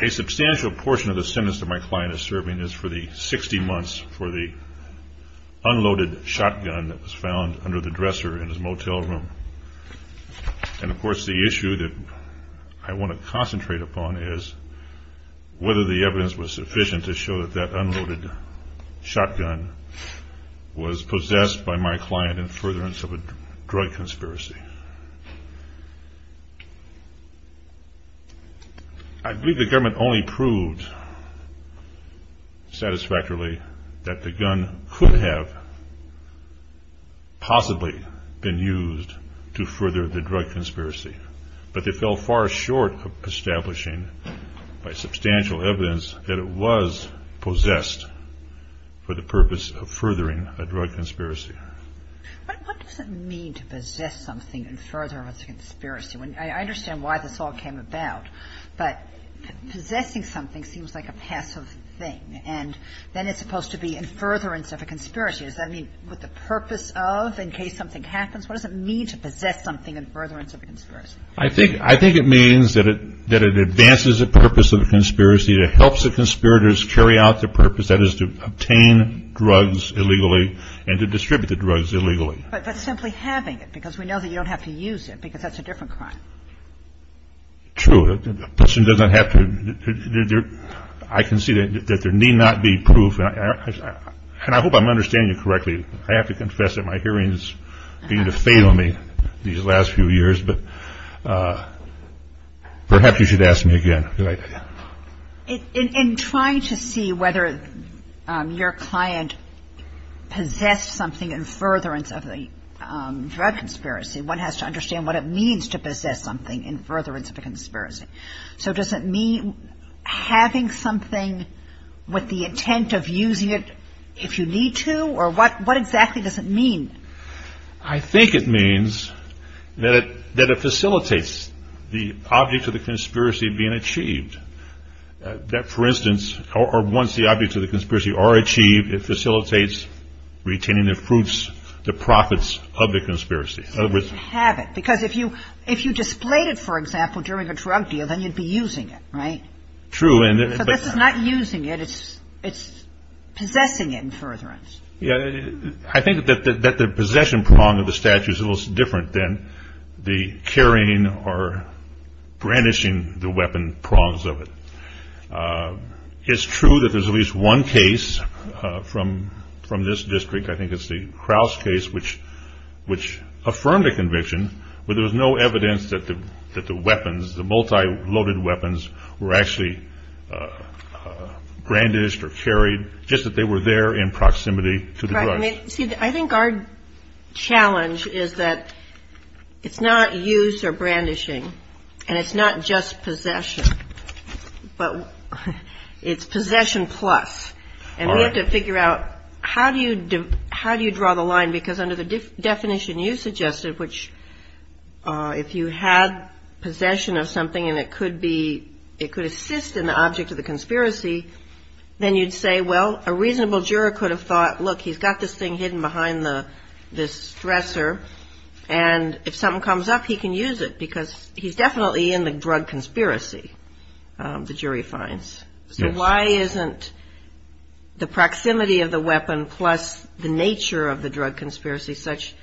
A substantial portion of the sentence that my client is serving is for the 60 months for the unloaded shotgun that was found under the dresser in his motel room. And of course the issue that I want to concentrate upon is whether the evidence was sufficient to show that that unloaded shotgun was possessed by my client in furtherance of a drug conspiracy. I believe the government only proved satisfactorily that the gun could have possibly been used to further the drug conspiracy, but they fell far short of establishing by substantial evidence that it was possessed for the purpose of furthering a drug conspiracy. But what does it mean to possess something in furtherance of a conspiracy? I understand why this all came about, but possessing something seems like a passive thing, and then it's supposed to be in furtherance of a conspiracy. Does that mean with the purpose of, in case something happens? What does it mean to possess something in furtherance of a conspiracy? I think it means that it advances the purpose of the conspiracy. It helps the conspirators carry out their purpose, that is to obtain drugs illegally and to distribute the drugs illegally. But simply having it, because we know that you don't have to use it, because that's a different crime. True. A person doesn't have to. I can see that there need not be proof, and I hope I'm understanding you correctly. I have to confess that my hearing is beginning to fade on me these last few years, but perhaps you should ask me again later. In trying to see whether your client possessed something in furtherance of the drug conspiracy, one has to understand what it means to possess something in furtherance of a conspiracy. So does it mean having something with the intent of using it if you need to, or what exactly does it mean? I think it means that it facilitates the object of the conspiracy being achieved. That, for instance, or once the objects of the conspiracy are achieved, it facilitates retaining the proofs, the profits of the conspiracy. So you have it, because if you displayed it, for example, during a drug deal, then you'd be using it, right? So this is not using it. It's possessing it in furtherance. Yeah. I think that the possession prong of the statute is a little different than the carrying or brandishing the weapon prongs of it. It's true that there's at least one case from this district. I think it's the Krause case, which affirmed a conviction, but there was no evidence that the weapons, the multi-loaded weapons, were actually brandished or carried, just that they were there in proximity to the drugs. See, I think our challenge is that it's not use or brandishing, and it's not just possession, but it's possession plus, and we have to figure out how do you draw the line, because under the definition you suggested, which if you had possession of something and it could assist in the object of the conspiracy, then you'd say, well, a reasonable juror could have thought, look, he's got this thing hidden behind this dresser, and if something comes up, he can use it, because he's definitely in the drug conspiracy, the jury finds. So why isn't the proximity of the weapon plus the nature of the drug conspiracy such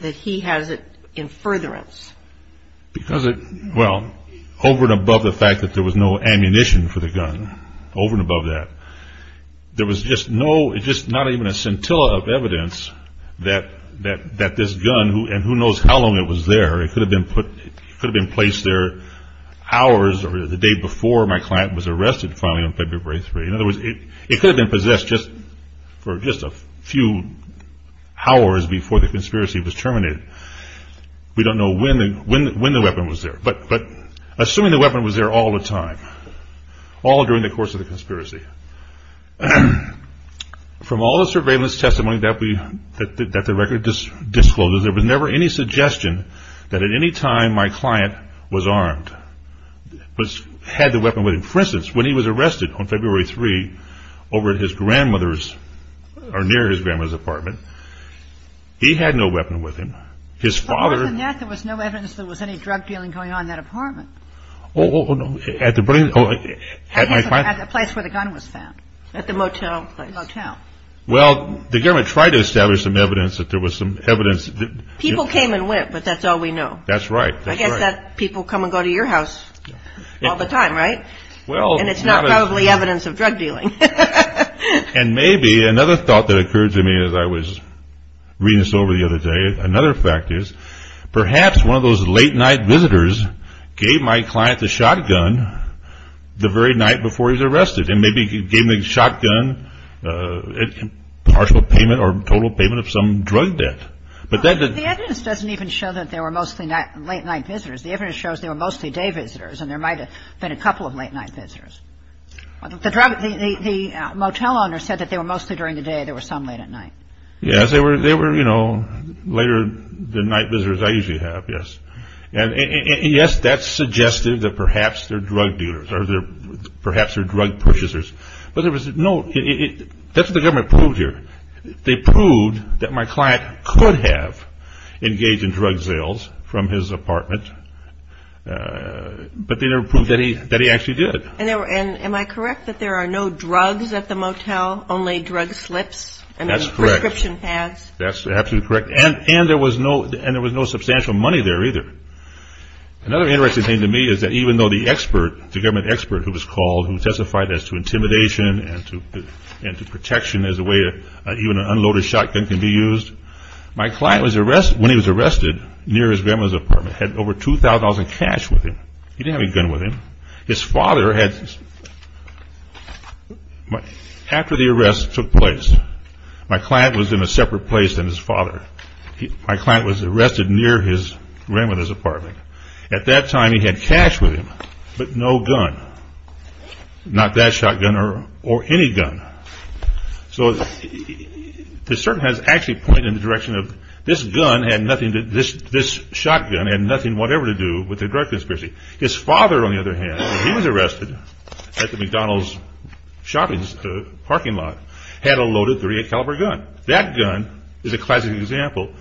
that he has it in furtherance? Because it, well, over and above the fact that there was no ammunition for the gun, over and above that, there was just no, just not even a scintilla of evidence that this gun, and who knows how long it was there, it could have been placed there hours or the day before my client was arrested finally on February 3rd, in other words, it could have been possessed for just a few hours before the conspiracy was terminated. We don't know when the weapon was there, but assuming the weapon was there all the time, all during the course of the conspiracy. From all the surveillance testimony that the record discloses, there was never any suggestion that at any time my client was armed, had the weapon with him. For instance, when he was arrested on February 3rd over at his grandmother's, or near his grandmother's apartment, he had no weapon with him. His father... But more than that, there was no evidence there was any drug dealing going on in that apartment. Oh, no, at the... At the place where the gun was found, at the motel. Well, the government tried to establish some evidence that there was some evidence... People came and went, but that's all we know. That's right. I guess that people come and go to your house all the time, right? Well... And it's not probably evidence of drug dealing. And maybe another thought that occurred to me as I was reading this over the other day, another fact is, perhaps one of those late night visitors gave my client the shotgun the very night before he was arrested. And maybe he gave him the shotgun in partial payment or total payment of some drug debt. But that... The evidence doesn't even show that there were mostly late night visitors. The evidence shows there were mostly day visitors, and there might have been a couple of late night visitors. The motel owner said that they were mostly during the day, there were some late at night. Yes, they were, you know, later than night visitors I usually have, yes. And yes, that suggested that perhaps they're drug dealers, or perhaps they're drug purchasers. But there was no... That's what the government proved here. They proved that my client could have engaged in drug sales from his apartment. But they never proved that he actually did. And am I correct that there are no drugs at the motel? Only drug slips? That's correct. And prescription pads? That's absolutely correct. And there was no substantial money there either. Another interesting thing to me is that even though the expert, the government expert who was called, who testified as to intimidation and to protection as a way to... Even an unloaded shotgun can be used. My client was arrested... When he was arrested, near his grandmother's apartment, had over $2,000 in cash with him. He didn't have any gun with him. His father had... After the arrest took place, my client was in a separate place than his father. My client was arrested near his grandmother's apartment. At that time, he had cash with him, but no gun. Not that shotgun or any gun. So the cert has actually pointed in the direction of this gun had nothing to... This shotgun had nothing whatever to do with the drug conspiracy. His father, on the other hand, when he was arrested at the McDonald's shopping parking lot, had a loaded .38 caliber gun. That gun is a classic example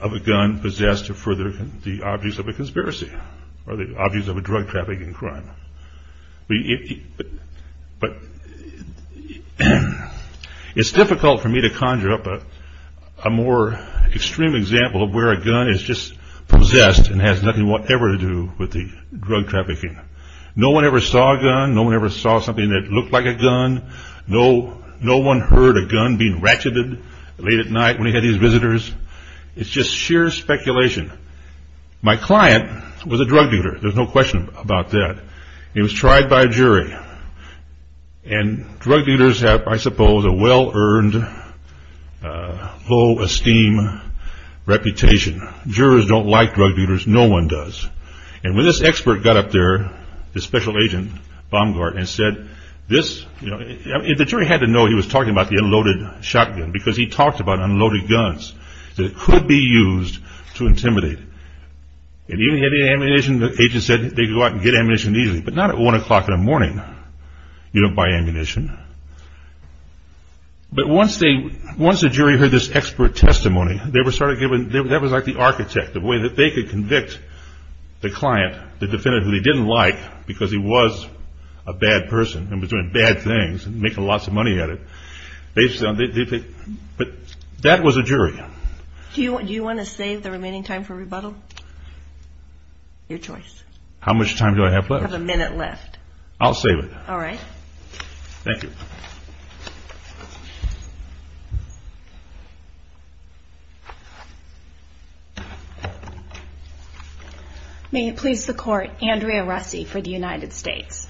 of a gun possessed to further the obvious of a conspiracy or the obvious of a drug trafficking crime. But it's difficult for me to conjure up a more extreme example of where a gun is just possessed and has nothing whatever to do with the drug trafficking. No one ever saw a gun. No one ever saw something that looked like a gun. No one heard a gun being ratcheted late at night when he had his visitors. It's just sheer speculation. My client was a drug dealer. There's no question about that. He was tried by a jury. And drug dealers have, I suppose, a well-earned, low-esteem reputation. Jurors don't like drug dealers. No one does. And when this expert got up there, this special agent, Baumgart, and said this, the jury had to know he was talking about the unloaded shotgun because he talked about unloaded guns, that it could be used to intimidate. And even if they had ammunition, the agent said they could go out and get ammunition easily, but not at 1 o'clock in the morning. You don't buy ammunition. But once the jury heard this expert testimony, that was like the architect, the way that they could convict the client, the defendant who they didn't like because he was a bad person and was doing bad things and making lots of money at it. But that was a jury. Do you want to save the remaining time for rebuttal? Your choice. How much time do I have left? You have a minute left. I'll save it. All right. Thank you. May it please the Court. Andrea Russi for the United States.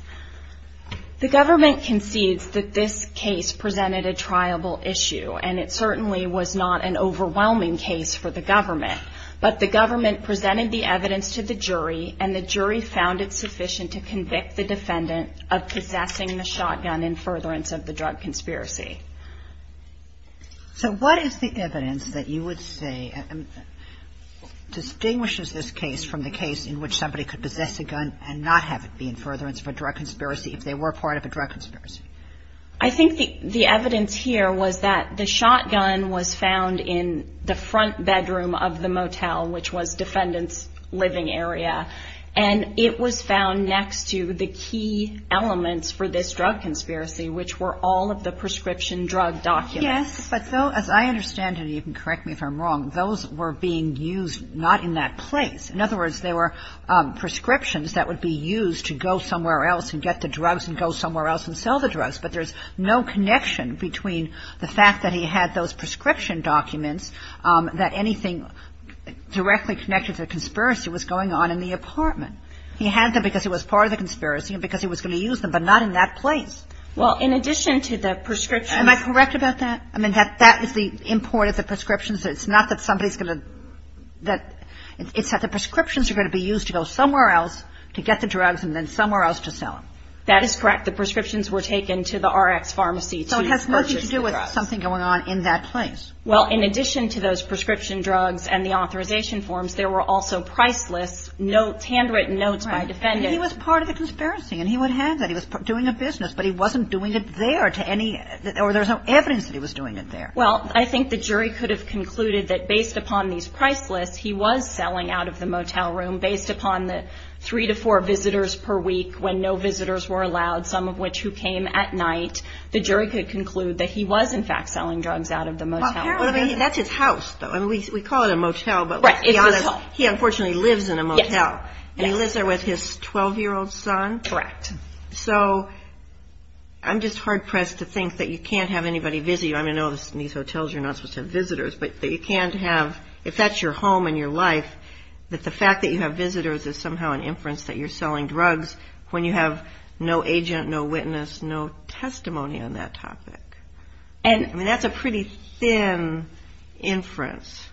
The government concedes that this case presented a triable issue, and it certainly was not an overwhelming case for the government. But the government presented the evidence to the jury, and the jury found it sufficient to convict the defendant of possessing the shotgun in furtherance of the drug conspiracy. So what is the evidence that you would say distinguishes this case from the case in which somebody could possess a gun and not have it be in furtherance of a drug conspiracy if they were part of a drug conspiracy? I think the evidence here was that the shotgun was found in the front bedroom of the motel, which was defendant's living area. And it was found next to the key elements for this drug conspiracy, which were all of the prescription drug documents. Yes. But as I understand it, and you can correct me if I'm wrong, those were being used not in that place. In other words, they were prescriptions that would be used to go somewhere else and get the drugs and go somewhere else and sell the drugs. But there's no connection between the fact that he had those prescription documents, that anything directly connected to the conspiracy was going on in the apartment. He had them because it was part of the conspiracy and because he was going to use them, but not in that place. Well, in addition to the prescriptions. Am I correct about that? I mean, that is the import of the prescriptions. It's not that somebody's going to – it's that the prescriptions are going to be used to go somewhere else to get the drugs and then somewhere else to sell them. That is correct. The prescriptions were taken to the Rx Pharmacy to purchase the drugs. So it has nothing to do with something going on in that place. Well, in addition to those prescription drugs and the authorization forms, there were also priceless notes, handwritten notes by defendants. Right. And he was part of the conspiracy and he would have that. He was doing a business, but he wasn't doing it there to any – or there's no evidence that he was doing it there. Well, I think the jury could have concluded that based upon these priceless, he was selling out of the motel room based upon the three to four visitors per week when no visitors were allowed, some of which who came at night. The jury could conclude that he was, in fact, selling drugs out of the motel room. Well, apparently that's his house, though. I mean, we call it a motel, but let's be honest. Right, it's a motel. He unfortunately lives in a motel. Yes. And he lives there with his 12-year-old son? Correct. So I'm just hard-pressed to think that you can't have anybody visit you. I mean, I know in these hotels you're not supposed to have visitors, but you can't have – if that's your home and your life, that the fact that you have visitors is somehow an inference that you're selling drugs when you have no agent, no witness, no testimony on that topic. I mean, that's a pretty thin inference.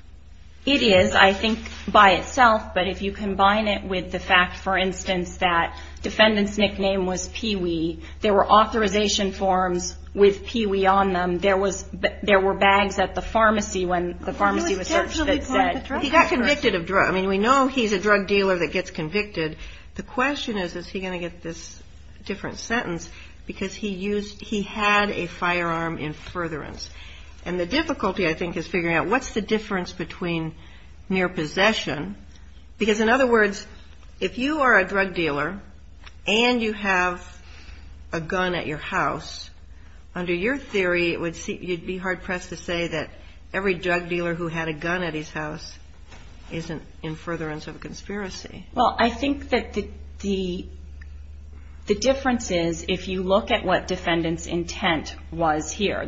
It is, I think, by itself. But if you combine it with the fact, for instance, that defendant's nickname was Pee-Wee, there were authorization forms with Pee-Wee on them. There were bags at the pharmacy when the pharmacy was searched that said – He got convicted of drugs. I mean, we know he's a drug dealer that gets convicted. The question is, is he going to get this different sentence? Because he had a firearm in furtherance. And the difficulty, I think, is figuring out what's the difference between mere possession. Because, in other words, if you are a drug dealer and you have a gun at your house, under your theory it would be hard-pressed to say that every drug dealer who had a gun at his house is in furtherance of a conspiracy. Well, I think that the difference is if you look at what defendant's intent was here.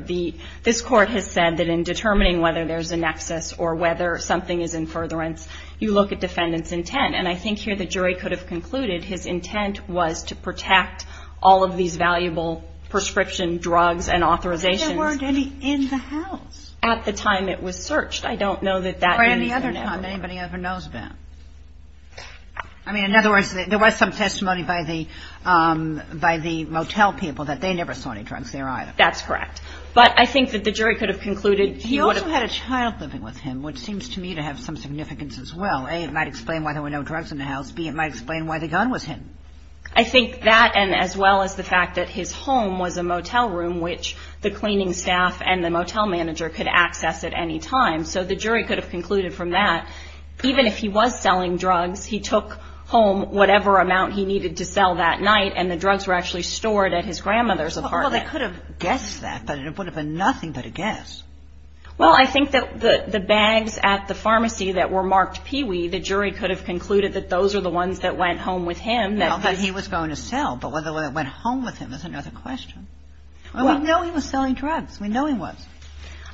This Court has said that in determining whether there's a nexus or whether something is in furtherance, you look at defendant's intent. And I think here the jury could have concluded his intent was to protect all of these valuable prescription drugs and authorizations. But there weren't any in the house. At the time it was searched. I don't know that that means they never – Or any other time anybody ever knows that. I mean, in other words, there was some testimony by the motel people that they never saw any drugs there either. That's correct. But I think that the jury could have concluded he would have – He also had a child living with him, which seems to me to have some significance as well. A, it might explain why there were no drugs in the house. B, it might explain why the gun was hidden. I think that, and as well as the fact that his home was a motel room, which the cleaning staff and the motel manager could access at any time. So the jury could have concluded from that, even if he was selling drugs, he took home whatever amount he needed to sell that night, and the drugs were actually stored at his grandmother's apartment. Well, they could have guessed that, but it would have been nothing but a guess. Well, I think that the bags at the pharmacy that were marked Pee Wee, the jury could have concluded that those are the ones that went home with him. Well, that he was going to sell, but whether it went home with him is another question. We know he was selling drugs. We know he was.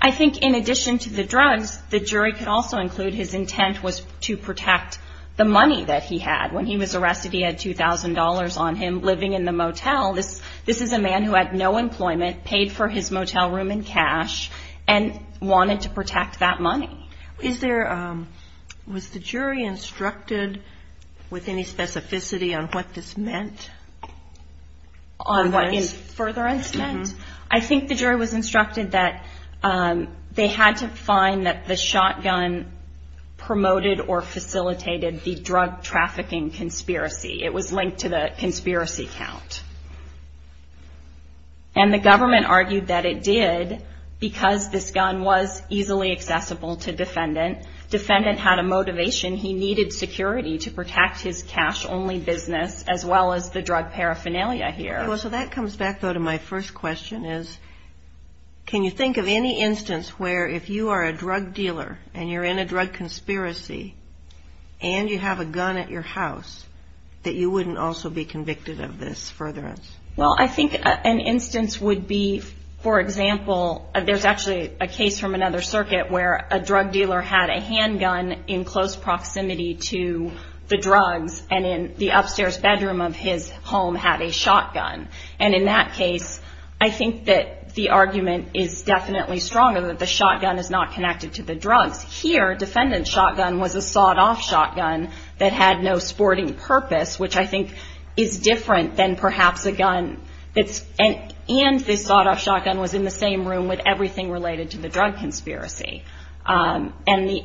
I think in addition to the drugs, the jury could also include his intent was to protect the money that he had. When he was arrested, he had $2,000 on him living in the motel. This is a man who had no employment, paid for his motel room in cash, and wanted to protect that money. Was the jury instructed with any specificity on what this meant? Further instructions? I think the jury was instructed that they had to find that the shotgun promoted or facilitated the drug trafficking conspiracy. It was linked to the conspiracy count. And the government argued that it did because this gun was easily accessible to defendant. Defendant had a motivation. He needed security to protect his cash-only business as well as the drug paraphernalia here. So that comes back, though, to my first question is, can you think of any instance where if you are a drug dealer and you're in a drug conspiracy and you have a gun at your house that you wouldn't also be convicted of this furtherance? Well, I think an instance would be, for example, there's actually a case from another circuit where a drug dealer had a handgun in close proximity to the drugs and in the upstairs bedroom of his home had a shotgun. And in that case, I think that the argument is definitely stronger that the shotgun is not connected to the drugs. Here, defendant's shotgun was a sawed-off shotgun that had no sporting purpose, which I think is different than perhaps a gun that's and this sawed-off shotgun was in the same room with everything related to the drug conspiracy. And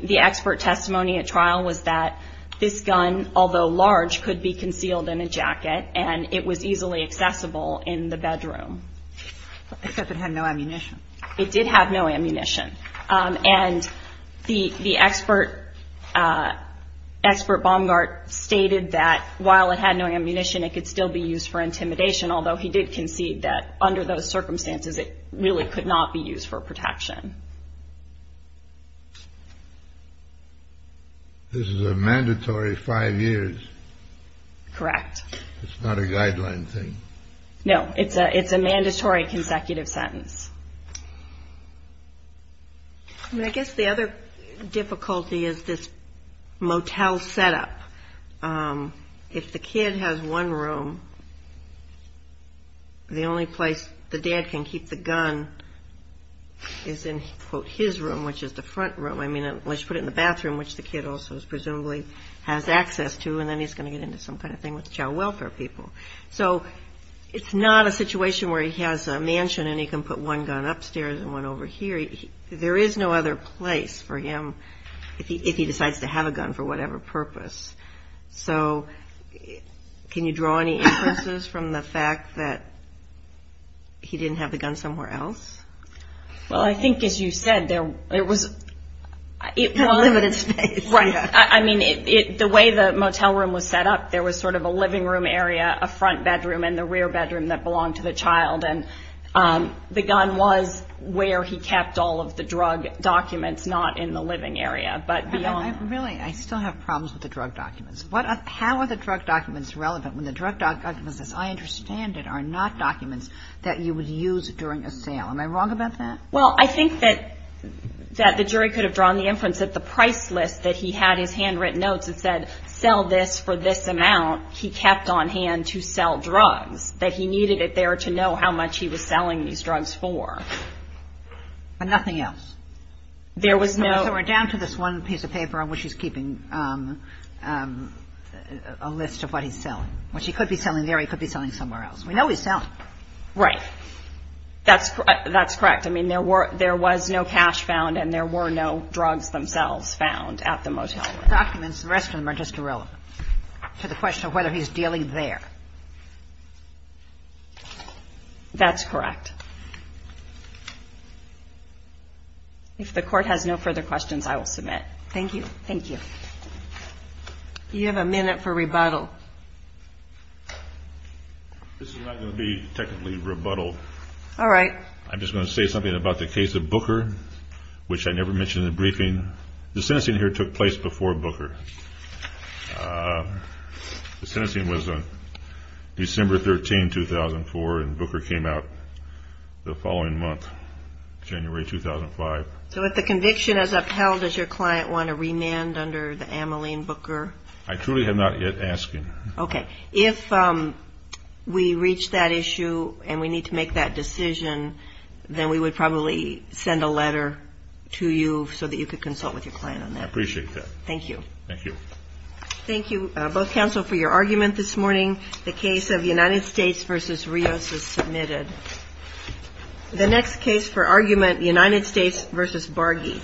the expert testimony at trial was that this gun, although large, could be concealed in a jacket and it was easily accessible in the bedroom. Except it had no ammunition. It did have no ammunition. And the expert, expert Baumgart, stated that while it had no ammunition, it could still be used for intimidation, although he did concede that under those circumstances, it really could not be used for protection. This is a mandatory five years. Correct. It's not a guideline thing. No, it's a mandatory consecutive sentence. I guess the other difficulty is this motel setup. If the kid has one room, the only place the dad can keep the gun is in, quote, his room, which is the front room. I mean, let's put it in the bathroom, which the kid also presumably has access to, and then he's going to get into some kind of thing with child welfare people. So it's not a situation where he has a mansion and he can put one gun upstairs and one over here. There is no other place for him if he decides to have a gun for whatever purpose. So can you draw any inferences from the fact that he didn't have the gun somewhere else? Well, I think, as you said, there was a limited space. Right. I mean, the way the motel room was set up, there was sort of a living room area, a front bedroom and the rear bedroom that belonged to the child. And the gun was where he kept all of the drug documents, not in the living area, but beyond. Really, I still have problems with the drug documents. How are the drug documents relevant when the drug documents, as I understand it, are not documents that you would use during a sale? Am I wrong about that? Well, I think that the jury could have drawn the inference that the price list that he had his handwritten notes that said sell this for this amount, he kept on hand to sell drugs, that he needed it there to know how much he was selling these drugs for. But nothing else? There was no – So we're down to this one piece of paper on which he's keeping a list of what he's selling, which he could be selling there, he could be selling somewhere else. We know he's selling. Right. That's correct. I mean, there was no cash found and there were no drugs themselves found at the motel. The documents, the rest of them are just irrelevant to the question of whether he's dealing there. That's correct. If the Court has no further questions, I will submit. Thank you. Thank you. You have a minute for rebuttal. This is not going to be technically rebuttal. All right. I'm just going to say something about the case of Booker, which I never mentioned in the briefing. The sentencing here took place before Booker. The sentencing was on December 13, 2004, and Booker came out the following month, January 2005. So if the conviction is upheld, does your client want a remand under the Ameline Booker? I truly have not yet asked him. Okay. If we reach that issue and we need to make that decision, then we would probably send a letter to you so that you could consult with your client on that. I appreciate that. Thank you. Thank you. Thank you, both counsel, for your argument this morning. The case of United States v. Rios is submitted. The next case for argument, United States v. Bargy.